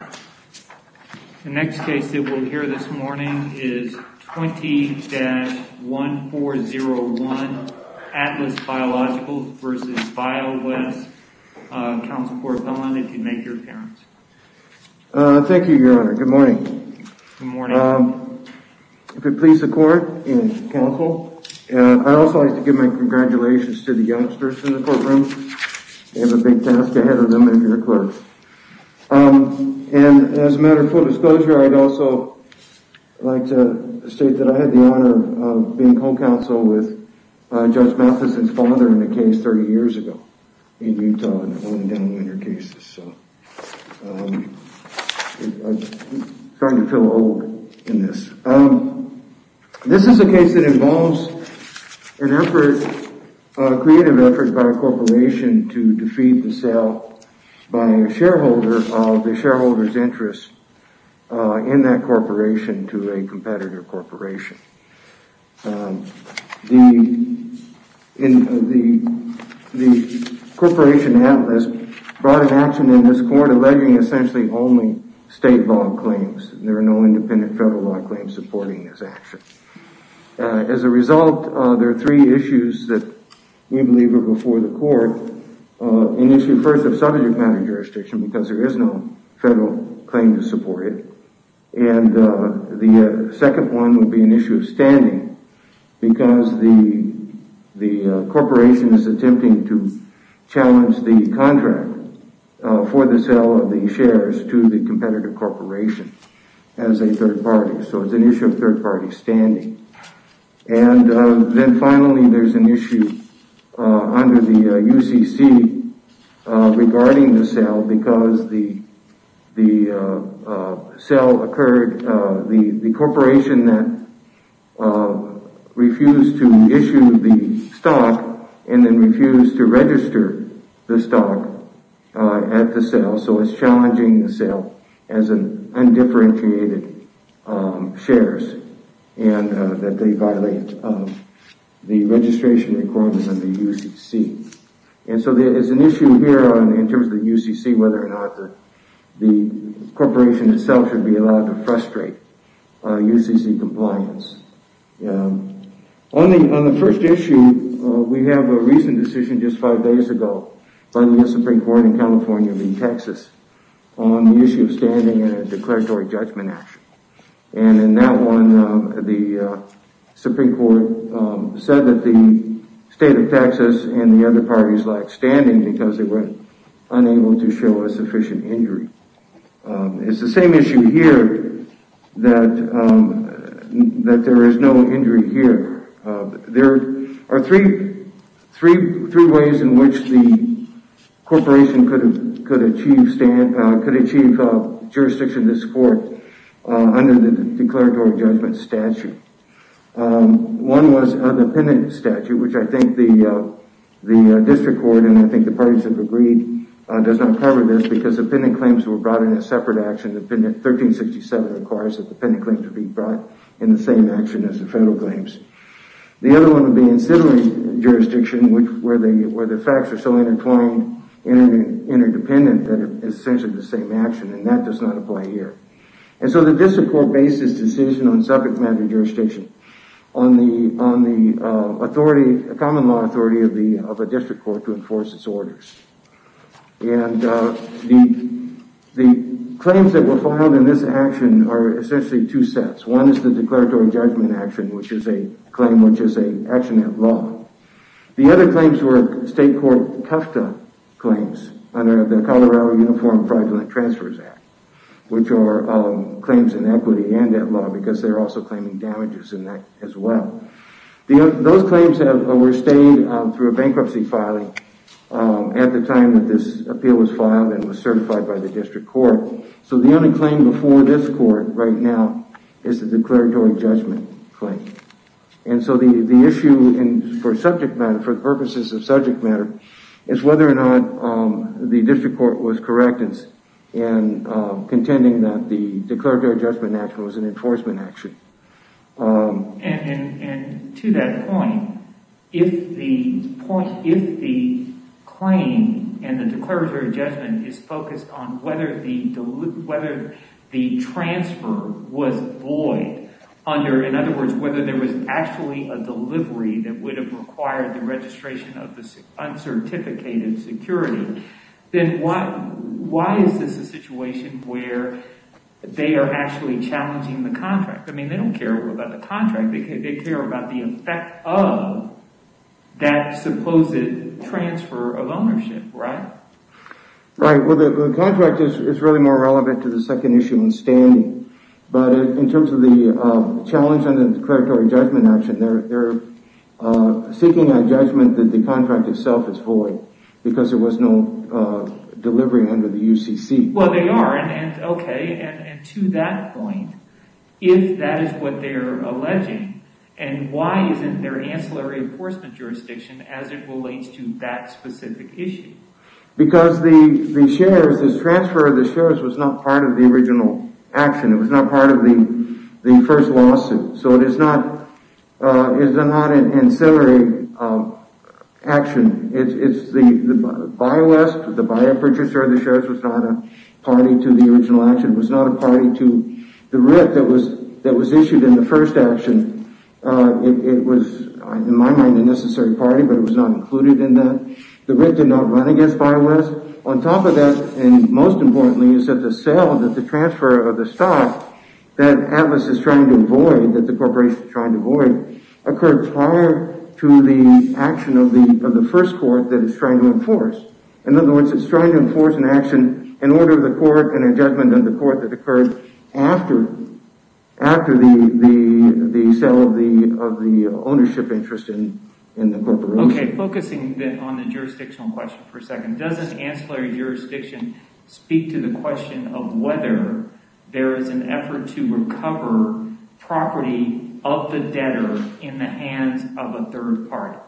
The next case that we'll hear this morning is 20-1401 Atlas Biologicals v. Biowest. Counsel Korthon, if you'd make your appearance. Thank you, Your Honor. Good morning. Good morning. If it please the court and counsel, I'd also like to give my congratulations to the youngsters in the courtroom. They have a big task ahead of them if you're a clerk. And as a matter of full disclosure, I'd also like to state that I had the honor of being home counsel with Judge Matheson's father in a case 30 years ago in Utah. One of the downwinder cases, so I'm starting to feel old in this. This is a case that involves an effort, a creative effort by a corporation to defeat the sale by a shareholder of the shareholder's interest in that corporation to a competitor corporation. The corporation Atlas brought an action in this court alleging essentially only state law claims. There are no independent federal law claims supporting this action. As a result, there are three issues that we believe are before the court. An issue first of subject matter jurisdiction because there is no federal claim to support it. And the second one would be an issue of standing because the corporation is attempting to challenge the contract for the sale of the shares to the competitive corporation as a third party. So it's an issue of third party standing. And then finally there's an issue under the UCC regarding the sale because the corporation that refused to issue the stock and then refused to register the stock at the sale. So it's challenging the sale as undifferentiated shares. And that they violate the registration requirements of the UCC. And so there is an issue here in terms of the UCC whether or not the corporation itself should be allowed to frustrate UCC compliance. On the first issue, we have a recent decision just five days ago by the U.S. Supreme Court in California in Texas on the issue of standing in a declaratory judgment action. And in that one, the Supreme Court said that the state of Texas and the other parties lacked standing because they were unable to show a sufficient injury. It's the same issue here that there is no injury here. There are three ways in which the corporation could achieve jurisdiction in this court under the declaratory judgment statute. One was a dependent statute, which I think the district court and I think the parties have agreed does not cover this because the pending claims were brought in as separate action. 1367 requires that the pending claim should be brought in the same action as the federal claims. The other one would be in civil jurisdiction where the facts are so intertwined and interdependent that it's essentially the same action. And that does not apply here. And so the district court based its decision on subject matter jurisdiction on the common law authority of a district court to enforce its orders. And the claims that were filed in this action are essentially two sets. One is the declaratory judgment action, which is a claim which is an action of law. The other claims were state court Tufta claims under the Colorado Uniform Fraudulent Transfers Act, which are claims in equity and debt law because they're also claiming damages in that as well. Those claims were stayed through a bankruptcy filing at the time that this appeal was filed and was certified by the district court. So the only claim before this court right now is the declaratory judgment claim. And so the issue for subject matter, for the purposes of subject matter, is whether or not the district court was correct in contending that the declaratory judgment action was an enforcement action. And to that point, if the claim and the declaratory judgment is focused on whether the transfer was void, in other words, whether there was actually a delivery that would have required the registration of the uncertificated security, then why is this a situation where they are actually challenging the contract? I mean, they don't care about the contract. They care about the effect of that supposed transfer of ownership, right? Right. Well, the contract is really more relevant to the second issue in standing. But in terms of the challenge on the declaratory judgment action, they're seeking a judgment that the contract itself is void because there was no delivery under the UCC. Well, they are. And to that point, if that is what they're alleging, then why isn't there ancillary enforcement jurisdiction as it relates to that specific issue? Because the transfer of the shares was not part of the original action. It was not part of the first lawsuit. So it is not an ancillary action. The buyer-purchaser of the shares was not a party to the original action. It was not a party to the writ that was issued in the first action. It was, in my mind, a necessary party, but it was not included in that. The writ did not run against Biowest. On top of that, and most importantly, is that the sale, that the transfer of the stock that Atlas is trying to avoid, that the corporation is trying to avoid, occurred prior to the action of the first court that it's trying to enforce. In other words, it's trying to enforce an action in order of the court and a judgment of the court that occurred after the sale of the ownership interest in the corporation. Okay, focusing on the jurisdictional question for a second, doesn't ancillary jurisdiction speak to the question of whether there is an effort to recover property of the debtor in the hands of a third party?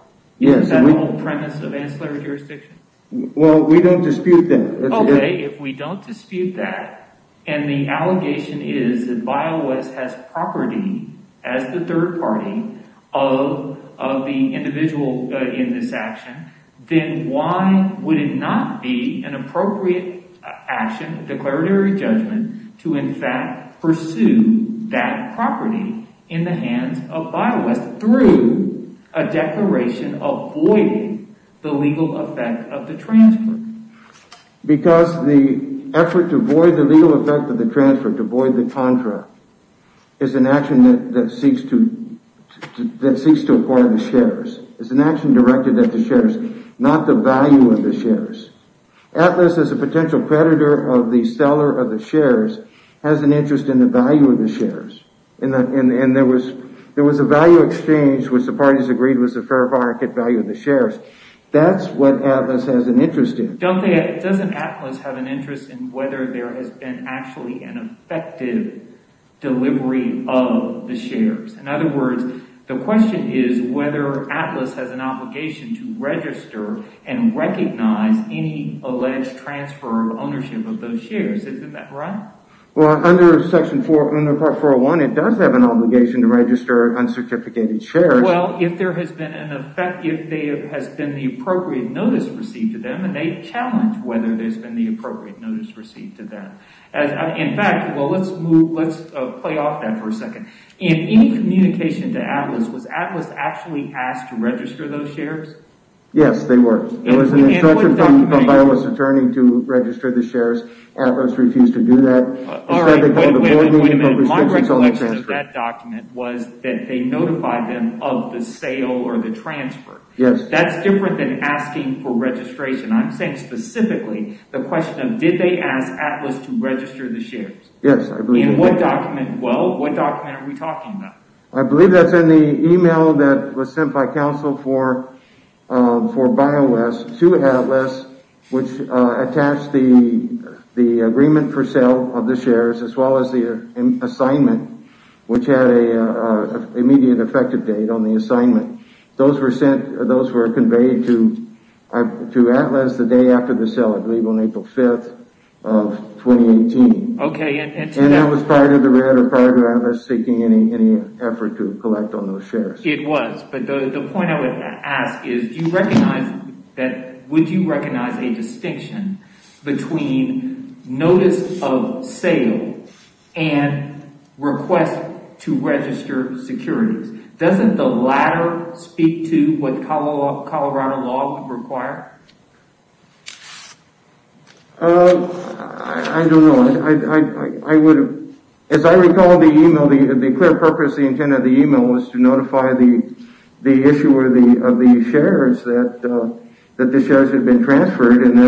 Isn't that the whole premise of ancillary jurisdiction? Well, we don't dispute that. Okay, if we don't dispute that, and the allegation is that Biowest has property as the third party of the individual in this action, then why would it not be an appropriate action, declaratory judgment, to in fact pursue that property in the hands of Biowest through a declaration avoiding the legal effect of the transfer? Because the effort to avoid the legal effect of the transfer, to avoid the contract, is an action that seeks to acquire the shares. It's an action directed at the shares, not the value of the shares. Atlas, as a potential predator of the seller of the shares, has an interest in the value of the shares. And there was a value exchange which the parties agreed was a fair market value of the shares. That's what Atlas has an interest in. Doesn't Atlas have an interest in whether there has been actually an effective delivery of the shares? In other words, the question is whether Atlas has an obligation to register and recognize any alleged transfer of ownership of those shares. Isn't that right? Well, under section 401, it does have an obligation to register uncertificated shares. Well, if there has been the appropriate notice received to them, and they challenge whether there's been the appropriate notice received to them. In fact, let's play off that for a second. In any communication to Atlas, was Atlas actually asked to register those shares? Yes, they were. It was an instruction from Biowest's attorney to register the shares. Atlas refused to do that. Wait a minute. My recollection of that document was that they notified them of the sale or the transfer. Yes. That's different than asking for registration. I'm saying specifically the question of did they ask Atlas to register the shares? Yes, I believe they did. In what document? Well, what document are we talking about? I believe that's in the email that was sent by counsel for Biowest to Atlas, which attached the agreement for sale of the shares, as well as the assignment, which had an immediate effective date on the assignment. Those were conveyed to Atlas the day after the sale, I believe on April 5th of 2018. That was prior to the red or prior to Atlas seeking any effort to collect on those shares. It was, but the point I would ask is would you recognize a distinction between notice of sale and request to register securities? Doesn't the latter speak to what Colorado law would require? I don't know. As I recall the email, the clear purpose, the intent of the email was to notify the issuer of the shares that the shares had been transferred, and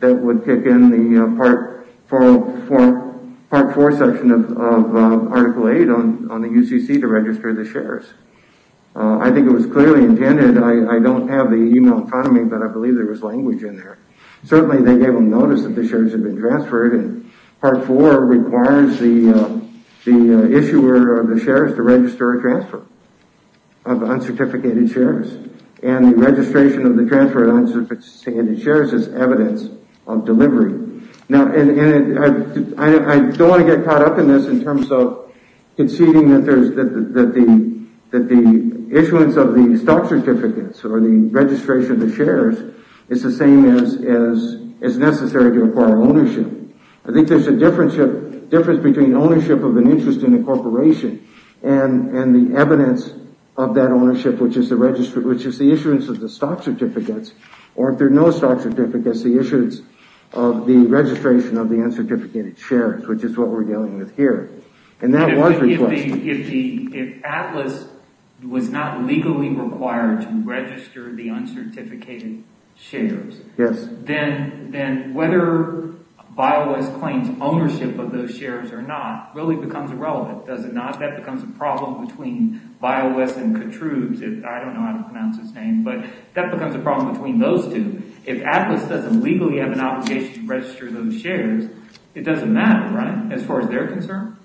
that would kick in the Part 4 section of Article 8 on the UCC to register the shares. I think it was clearly intended. I don't have the email in front of me, but I believe there was language in there. Certainly, they gave them notice that the shares had been transferred, and Part 4 requires the issuer of the shares to register a transfer of uncertificated shares. The registration of the transferred uncertificated shares is evidence of delivery. I don't want to get caught up in this in terms of conceding that the issuance of the stock certificates or the registration of the shares is the same as necessary to acquire ownership. I think there's a difference between ownership of an interest in a corporation and the evidence of that ownership, which is the issuance of the stock certificates, or if there are no stock certificates, the issuance of the registration of the uncertificated shares, which is what we're dealing with here. If Atlas was not legally required to register the uncertificated shares, then whether BioWest claims ownership of those shares or not really becomes irrelevant. Does it not? That becomes a problem between BioWest and Kutruz. I don't know how to pronounce his name, but that becomes a problem between those two. If Atlas doesn't legally have an obligation to register those shares, it doesn't matter, right, as far as they're concerned?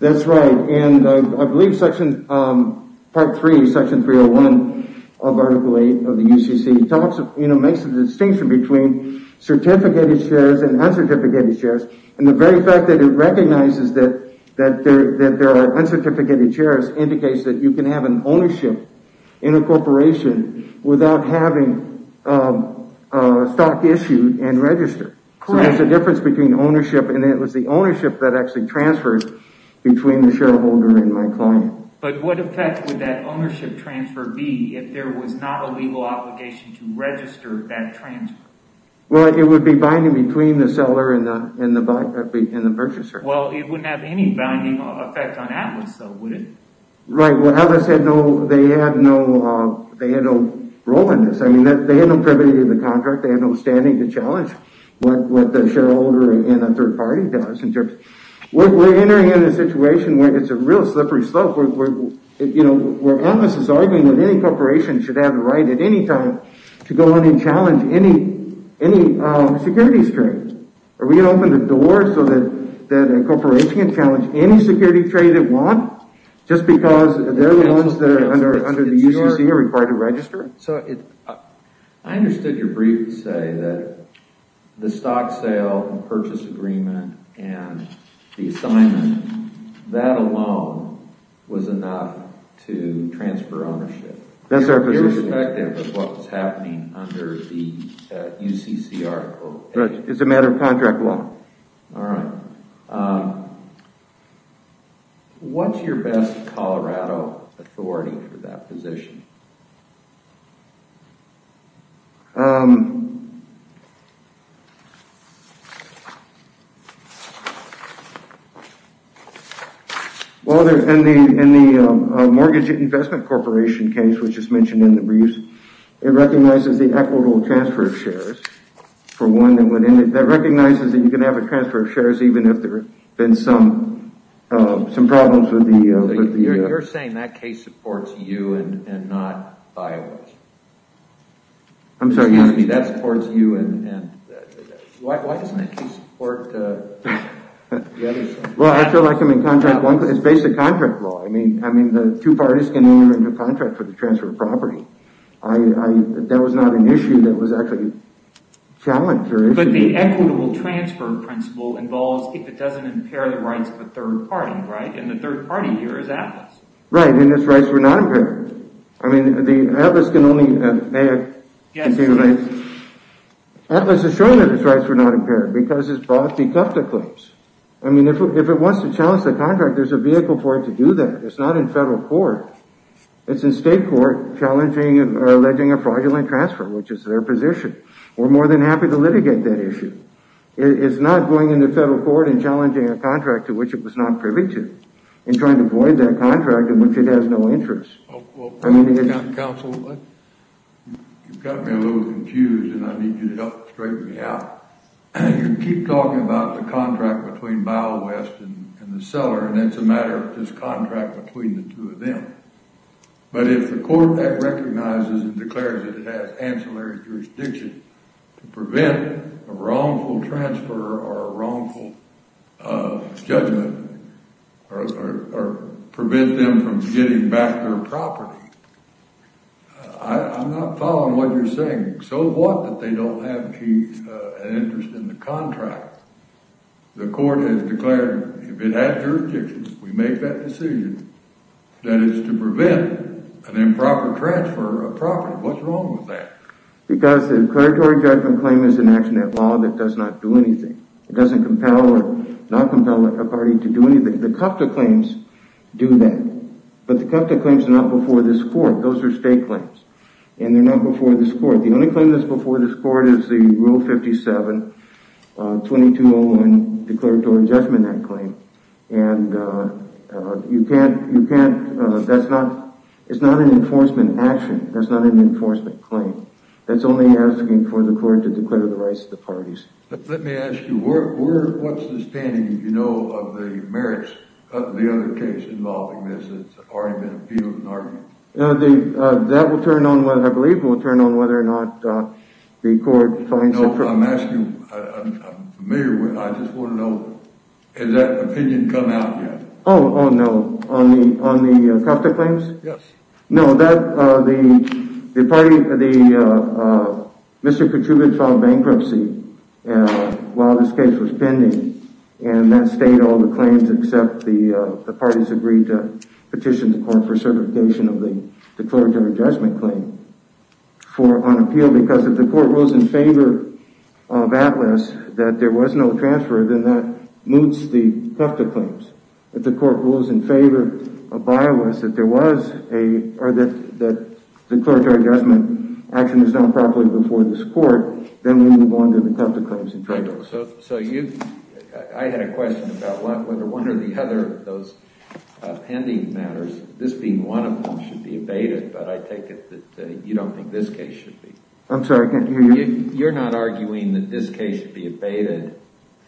That's right, and I believe Section 301 of Article 8 of the UCC makes a distinction between certificated shares and uncertificated shares. And the very fact that it recognizes that there are uncertificated shares indicates that you can have an ownership in a corporation without having a stock issued and registered. So there's a difference between ownership, and it was the ownership that actually transfers between the shareholder and my client. But what effect would that ownership transfer be if there was not a legal obligation to register that transfer? Well, it would be binding between the seller and the purchaser. Well, it wouldn't have any binding effect on Atlas, though, would it? Right, well, Atlas had no role in this. I mean, they had no privilege in the contract. They had no standing to challenge what the shareholder and a third party does. We're entering in a situation where it's a real slippery slope, where Atlas is arguing that any corporation should have the right at any time to go on and challenge any securities trade. Are we going to open the door so that a corporation can challenge any securities trade it wants just because they're the ones that are under the UCC are required to register? I understood your brief to say that the stock sale and purchase agreement and the assignment, that alone was enough to transfer ownership. That's our position. Irrespective of what was happening under the UCC article. Right, it's a matter of contract law. All right. What's your best Colorado authority for that position? Well, in the mortgage investment corporation case, which is mentioned in the briefs, it recognizes the equitable transfer of shares. For one, that recognizes that you can have a transfer of shares even if there have been some problems with the… Excuse me, that supports you. Why doesn't it support the others? Well, I feel like it's based on contract law. I mean, the two parties can enter into a contract for the transfer of property. That was not an issue that was actually challenged. But the equitable transfer principle involves if it doesn't impair the rights of a third party, right? And the third party here is Atlas. Right, and its rights were not impaired. I mean, the Atlas can only… Yes, it is. Atlas has shown that its rights were not impaired because it's brought the Tufta claims. I mean, if it wants to challenge the contract, there's a vehicle for it to do that. It's not in federal court. It's in state court challenging or alleging a fraudulent transfer, which is their position. We're more than happy to litigate that issue. It's not going into federal court and challenging a contract to which it was not privy to and trying to void that contract in which it has no interest. Well, counsel, you've got me a little confused, and I need you to help straighten me out. You keep talking about the contract between Biowest and the seller, and it's a matter of this contract between the two of them. But if the court recognizes and declares that it has ancillary jurisdiction to prevent a wrongful transfer or a wrongful judgment or prevent them from getting back their property, I'm not following what you're saying. So what that they don't have an interest in the contract? The court has declared, if it has jurisdiction, we make that decision, that is to prevent an improper transfer of property. What's wrong with that? Because the declaratory judgment claim is an action at law that does not do anything. It doesn't compel or not compel a party to do anything. The Tufta claims do that, but the Tufta claims are not before this court. Those are state claims, and they're not before this court. The only claim that's before this court is the Rule 57, 2201 Declaratory Judgment Act claim. And you can't – that's not – it's not an enforcement action. That's not an enforcement claim. That's only asking for the court to declare the rights of the parties. Let me ask you, what's the standing, if you know, of the merits of the other case involving this that's already been appealed and argued? That will turn on – I believe it will turn on whether or not the court finds it – No, I'm asking – I'm familiar with – I just want to know, has that opinion come out yet? Oh, no. On the Tufta claims? Yes. No, that – the party – the – Mr. Petrubid filed bankruptcy while this case was pending, and that stayed all the claims except the parties agreed to petition the court for certification of the declaratory judgment claim for – on appeal. Because if the court rules in favor of Atlas that there was no transfer, then that moots the Tufta claims. If the court rules in favor of Biowas that there was a – or that the declaratory judgment action was done properly before this court, then we move on to the Tufta claims and trade-offs. So you – I had a question about whether one or the other of those pending matters, this being one of them, should be abated, but I take it that you don't think this case should be. I'm sorry, I can't hear you. You're not arguing that this case should be abated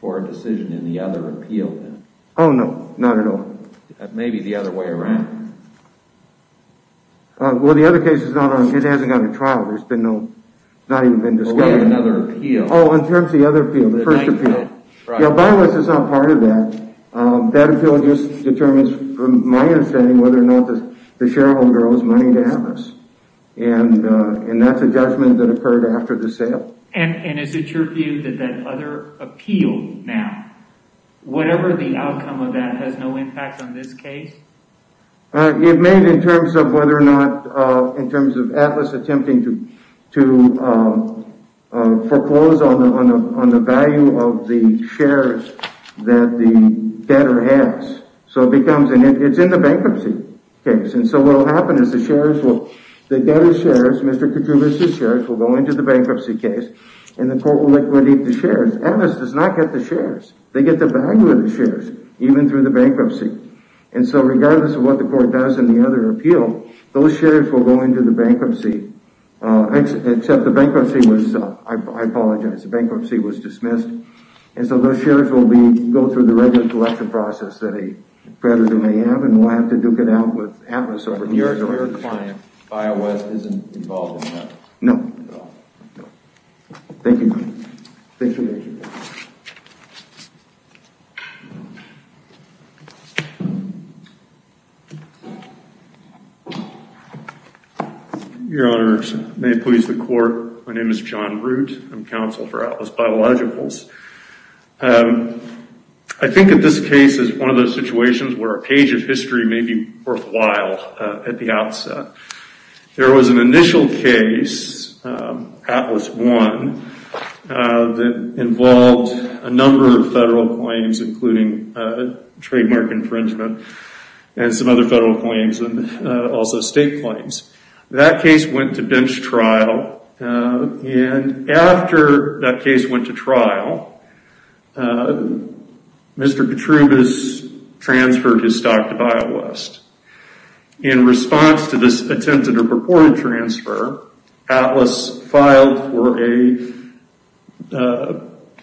for a decision in the other appeal, then? Oh, no, not at all. That may be the other way around. Well, the other case is not on – it hasn't gone to trial. There's been no – not even been discussed. What about another appeal? Oh, in terms of the other appeal, the first appeal. Right. Yeah, Biowas is not part of that. That appeal just determines, from my understanding, whether or not the shareholder owes money to Atlas, and that's a judgment that occurred after the sale. And is it your view that that other appeal now, whatever the outcome of that, has no impact on this case? It may, in terms of whether or not – in terms of Atlas attempting to foreclose on the value of the shares that the debtor has. So it becomes – and it's in the bankruptcy case. And so what will happen is the debtor's shares, Mr. Kutubis' shares, will go into the bankruptcy case, and the court will liquidate the shares. Atlas does not get the shares. They get the value of the shares, even through the bankruptcy. And so regardless of what the court does in the other appeal, those shares will go into the bankruptcy, except the bankruptcy was – I apologize – the bankruptcy was dismissed. And so those shares will go through the regular collection process that a creditor may have, and we'll have to duke it out with Atlas over the years. So your client, Biowest, isn't involved in that? No. No. Thank you. Thank you. Thank you. Your Honors, may it please the Court, my name is John Root. I'm counsel for Atlas Biologicals. I think that this case is one of those situations where a page of history may be worthwhile at the outset. There was an initial case, Atlas 1, that involved a number of federal claims, including trademark infringement and some other federal claims and also state claims. That case went to bench trial, and after that case went to trial, Mr. Ketrubis transferred his stock to Biowest. In response to this attempted or purported transfer, Atlas filed for a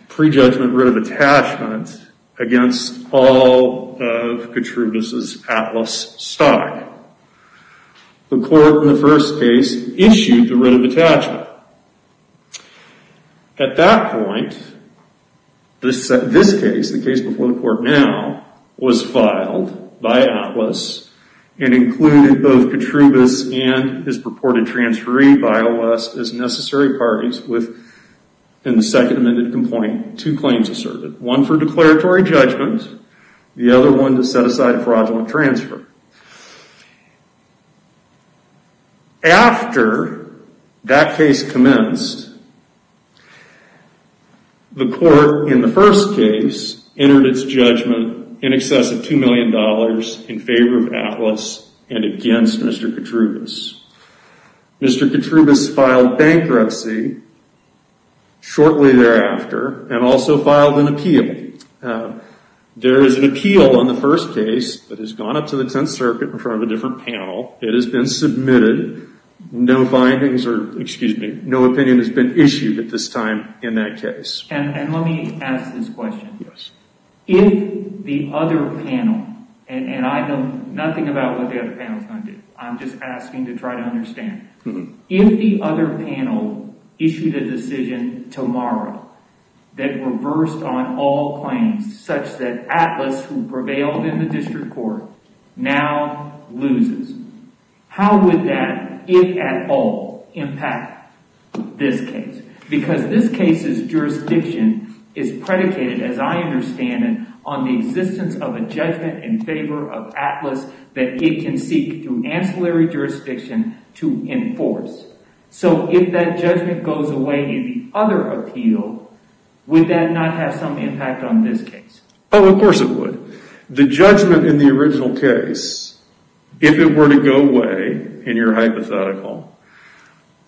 pre-judgment writ of attachment against all of Ketrubis' Atlas stock. The court in the first case issued the writ of attachment. At that point, this case, the case before the court now, was filed by Atlas and included both Ketrubis and his purported transferee, Biowest, as necessary parties in the second amended complaint, two claims asserted. One for declaratory judgment, the other one to set aside fraudulent transfer. After that case commenced, the court in the first case entered its judgment in excess of $2 million in favor of Atlas and against Mr. Ketrubis. Mr. Ketrubis filed bankruptcy shortly thereafter and also filed an appeal. There is an appeal on the first case that has gone up to the Tenth Circuit in front of a different panel. It has been submitted. No findings or, excuse me, no opinion has been issued at this time in that case. And let me ask this question. Yes. If the other panel, and I know nothing about what the other panel is going to do. I'm just asking to try to understand. If the other panel issued a decision tomorrow that reversed on all claims such that Atlas, who prevailed in the district court, now loses, how would that, if at all, impact this case? Because this case's jurisdiction is predicated, as I understand it, on the existence of a judgment in favor of Atlas that it can seek through ancillary jurisdiction to enforce. So if that judgment goes away in the other appeal, would that not have some impact on this case? Oh, of course it would. The judgment in the original case, if it were to go away in your hypothetical,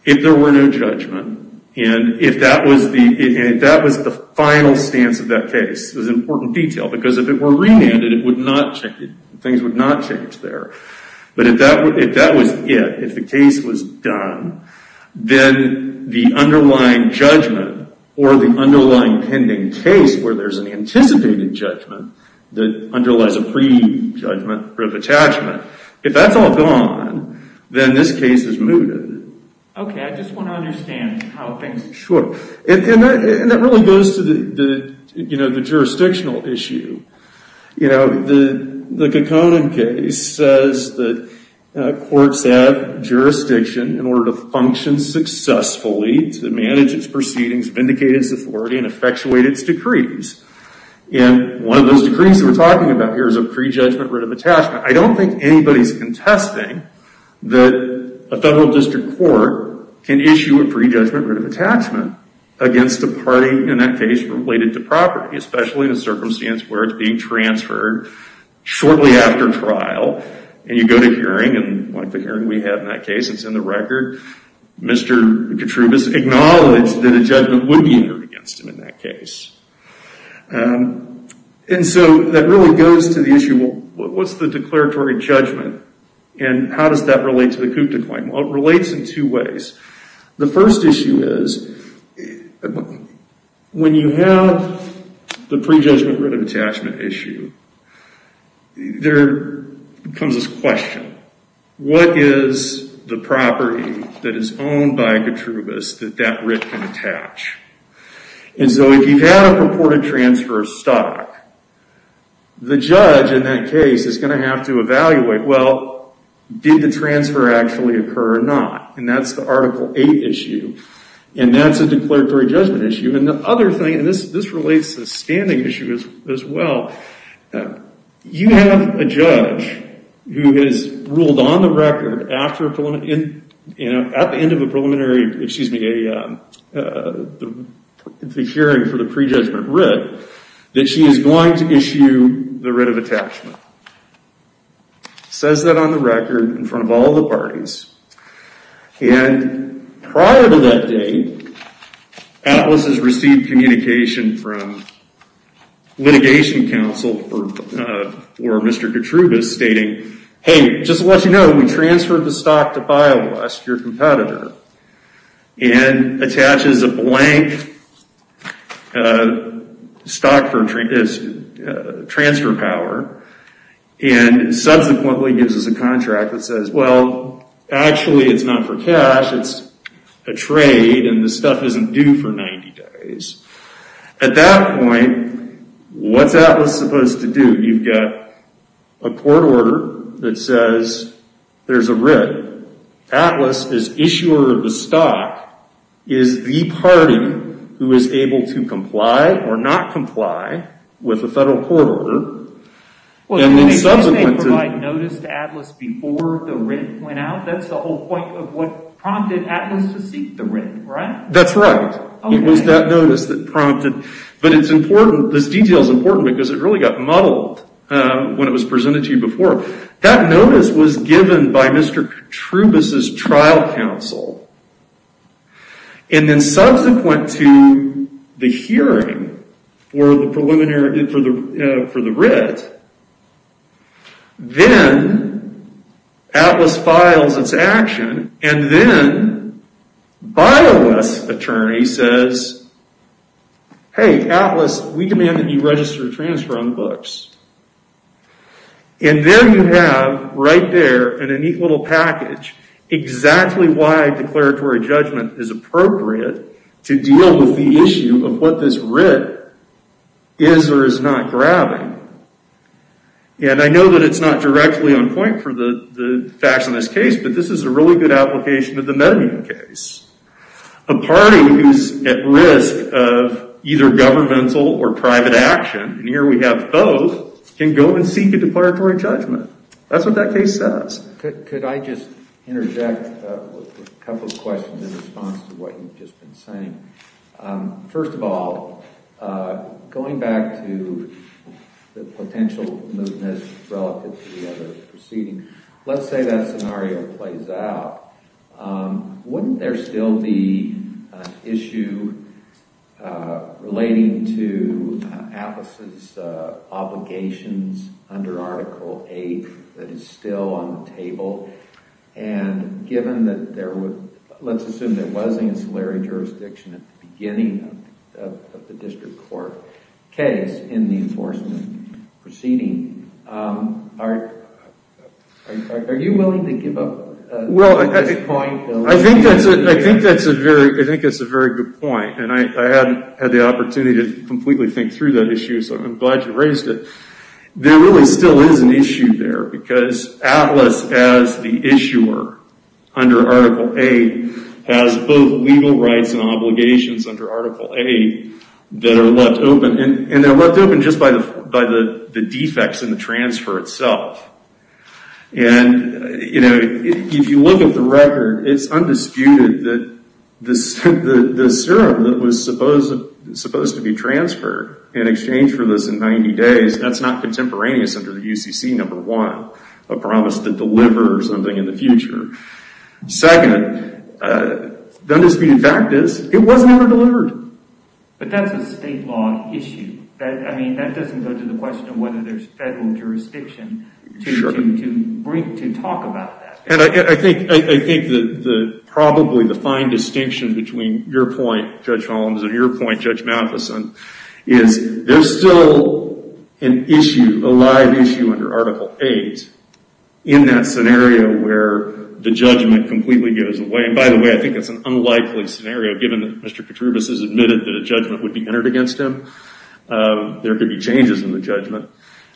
if there were no judgment, and if that was the final stance of that case, this is an important detail, because if it were remanded, things would not change there. But if that was it, if the case was done, then the underlying judgment or the underlying pending case where there's an anticipated judgment that underlies a pre-judgment attachment, if that's all gone, then this case is mooted. Okay, I just want to understand how things... Sure, and that really goes to the jurisdictional issue. The Gaconan case says that courts have jurisdiction in order to function successfully to manage its proceedings, vindicate its authority, and effectuate its decrees. And one of those decrees that we're talking about here is a pre-judgment writ of attachment. I don't think anybody's contesting that a federal district court can issue a pre-judgment writ of attachment against a party in that case related to property, especially in a circumstance where it's being transferred shortly after trial, and you go to hearing, and like the hearing we had in that case, it's in the record, Mr. Gattrubas acknowledged that a judgment would be entered against him in that case. And so that really goes to the issue, well, what's the declaratory judgment, and how does that relate to the Coupe Decline? Well, it relates in two ways. The first issue is when you have the pre-judgment writ of attachment issue, there comes this question, what is the property that is owned by Gattrubas that that writ can attach? And so if you've had a purported transfer of stock, the judge in that case is going to have to evaluate, well, did the transfer actually occur or not? And that's the Article 8 issue, and that's a declaratory judgment issue. And the other thing, and this relates to the standing issue as well, you have a judge who has ruled on the record at the end of a preliminary hearing for the pre-judgment writ that she is going to issue the writ of attachment. Says that on the record in front of all the parties. And prior to that date, Atlas has received communication from litigation counsel for Mr. Gattrubas stating, hey, just to let you know, we transferred the stock to BioWest, your competitor, and attaches a blank stock for transfer power, and subsequently gives us a contract that says, well, actually it's not for cash, it's a trade, and the stuff isn't due for 90 days. At that point, what's Atlas supposed to do? You've got a court order that says there's a writ. Atlas, as issuer of the stock, is the party who is able to comply or not comply with the federal court order. And then subsequently... Well, didn't they provide notice to Atlas before the writ went out? That's the whole point of what prompted Atlas to seek the writ, right? That's right. It was that notice that prompted. But it's important, this detail is important, because it really got muddled when it was presented to you before. That notice was given by Mr. Gattrubas' trial counsel. And then subsequent to the hearing for the writ, then Atlas files its action, and then BioWest's attorney says, hey, Atlas, we demand that you register a transfer on the books. And there you have, right there, in a neat little package, exactly why declaratory judgment is appropriate to deal with the issue of what this writ is or is not grabbing. And I know that it's not directly on point for the facts in this case, but this is a really good application of the Medemun case. A party who's at risk of either governmental or private action, and here we have both, can go and seek a declaratory judgment. That's what that case says. Could I just interject with a couple of questions in response to what you've just been saying? First of all, going back to the potential mootness relative to the other proceedings, let's say that scenario plays out. Wouldn't there still be an issue relating to Atlas' obligations under Article VIII that is still on the table? And given that there was, let's assume there was an ancillary jurisdiction at the beginning of the district court case in the enforcement proceeding, are you willing to give up? Well, I think that's a very good point, and I hadn't had the opportunity to completely think through that issue, so I'm glad you raised it. There really still is an issue there because Atlas, as the issuer under Article VIII, has both legal rights and obligations under Article VIII that are left open, and they're left open just by the defects in the transfer itself. And, you know, if you look at the record, it's undisputed that the serum that was supposed to be transferred in exchange for this in 90 days, that's not contemporaneous under the UCC number one, a promise to deliver something in the future. Second, the undisputed fact is it was never delivered. But that's a state law issue. I mean, that doesn't go to the question of whether there's federal jurisdiction to talk about that. And I think probably the fine distinction between your point, Judge Holmes, and your point, Judge Matheson, is there's still an issue, a live issue under Article VIII, in that scenario where the judgment completely goes away. And by the way, I think it's an unlikely scenario, given that Mr. Petrubis has admitted that a judgment would be entered against him. There could be changes in the judgment.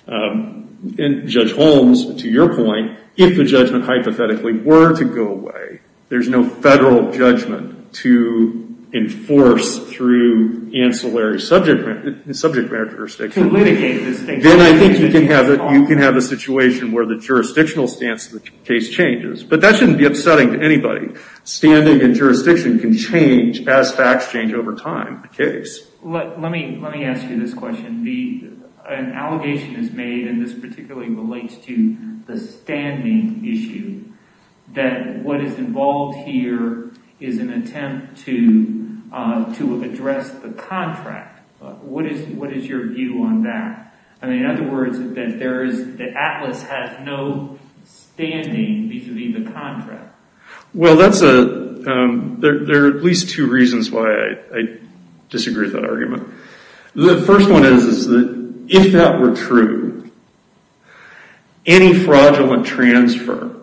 And, Judge Holmes, to your point, if the judgment hypothetically were to go away, there's no federal judgment to enforce through ancillary subject matter jurisdiction. Then I think you can have a situation where the jurisdictional stance of the case changes. But that shouldn't be upsetting to anybody. Standing and jurisdiction can change as facts change over time in a case. Let me ask you this question. An allegation is made, and this particularly relates to the standing issue, that what is involved here is an attempt to address the contract. What is your view on that? In other words, the Atlas has no standing vis-à-vis the contract. Well, there are at least two reasons why I disagree with that argument. The first one is that if that were true, any fraudulent transfer,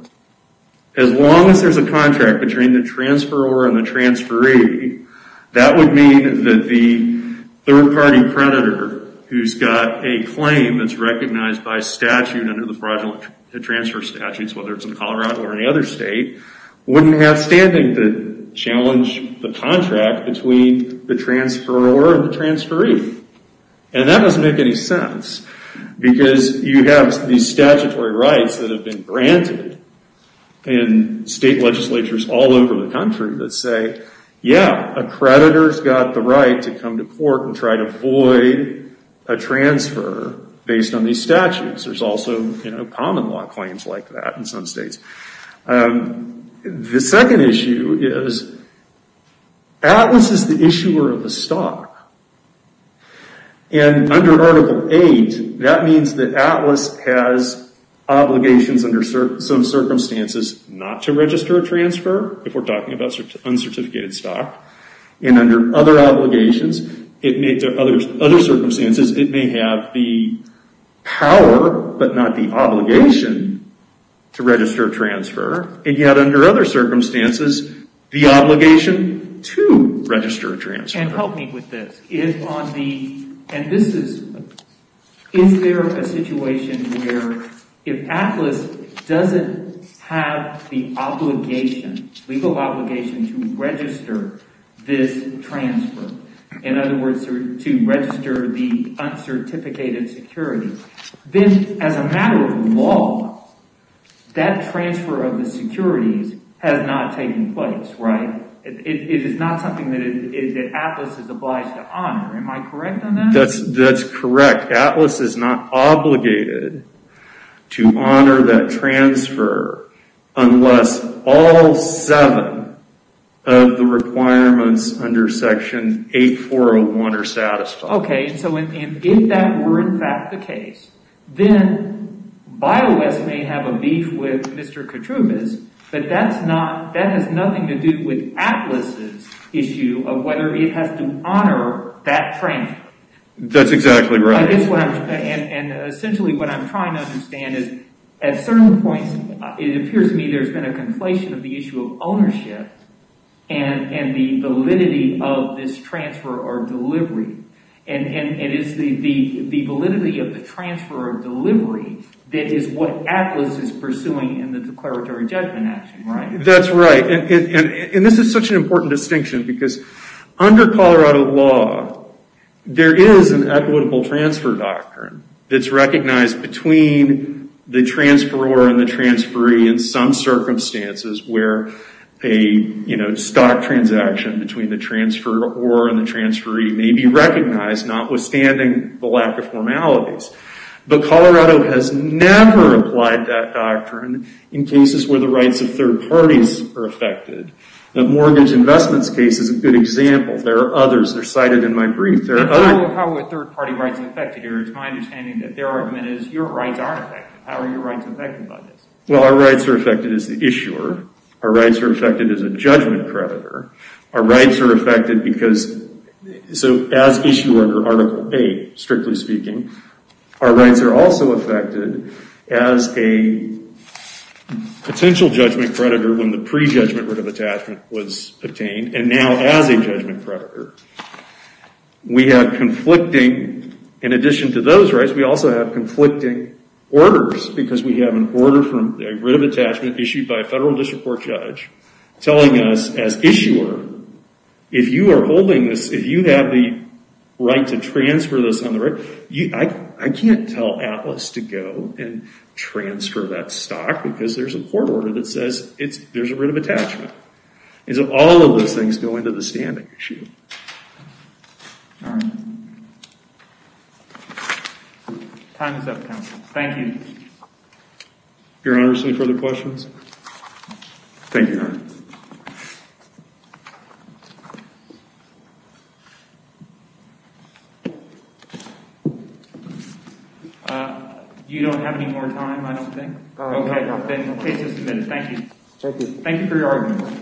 as long as there's a contract between the transferor and the transferee, that would mean that the third-party predator, who's got a claim that's recognized by statute under the fraudulent transfer statutes, whether it's in Colorado or any other state, wouldn't have standing to challenge the contract between the transferor and the transferee. And that doesn't make any sense, because you have these statutory rights that have been granted in state legislatures all over the country that say, yeah, a predator's got the right to come to court and try to void a transfer based on these statutes. There's also common law claims like that in some states. The second issue is Atlas is the issuer of the stock. And under Article 8, that means that Atlas has obligations under some circumstances not to register a transfer if we're talking about uncertificated stock. And under other circumstances, it may have the power but not the obligation to register a transfer. And yet under other circumstances, the obligation to register a transfer. And help me with this. Is there a situation where if Atlas doesn't have the obligation, legal obligation, to register this transfer, in other words, to register the uncertificated security, then as a matter of law, that transfer of the securities has not taken place, right? It is not something that Atlas is obliged to honor. Am I correct on that? That's correct. Atlas is not obligated to honor that transfer unless all seven of the requirements under Section 8401 are satisfied. Okay. So if that were, in fact, the case, then BioS may have a beef with Mr. Ketrubis, but that has nothing to do with Atlas' issue of whether it has to honor that transfer. That's exactly right. And essentially what I'm trying to understand is at certain points, it appears to me there's been a conflation of the issue of ownership and the validity of this transfer or delivery. And it is the validity of the transfer or delivery that is what Atlas is pursuing in the declaratory judgment action, right? That's right. And this is such an important distinction because under Colorado law, there is an equitable transfer doctrine that's recognized between the transferor and the transferee in some circumstances where a stock transaction between the transferor and the transferee may be recognized, notwithstanding the lack of formalities. But Colorado has never applied that doctrine in cases where the rights of third parties are affected. The mortgage investments case is a good example. There are others. They're cited in my brief. How are third-party rights affected here? It's my understanding that their argument is your rights are affected. How are your rights affected by this? Well, our rights are affected as the issuer. Our rights are affected as a judgment creditor. Our rights are affected because, so as issuer under Article 8, strictly speaking, our rights are also affected as a potential judgment creditor when the pre-judgment writ of attachment was obtained and now as a judgment creditor. We have conflicting, in addition to those rights, we also have conflicting orders because we have an order for a writ of attachment issued by a federal district court judge telling us as issuer, if you are holding this, if you have the right to transfer this on the record, I can't tell Atlas to go and transfer that stock because there's a court order that says there's a writ of attachment. All of those things go into the standing issue. All right. Time is up, counsel. Thank you. Your Honor, any further questions? Thank you, Your Honor. You don't have any more time, I don't think. Okay. Okay, so submitted. Thank you. Thank you, Your Honor.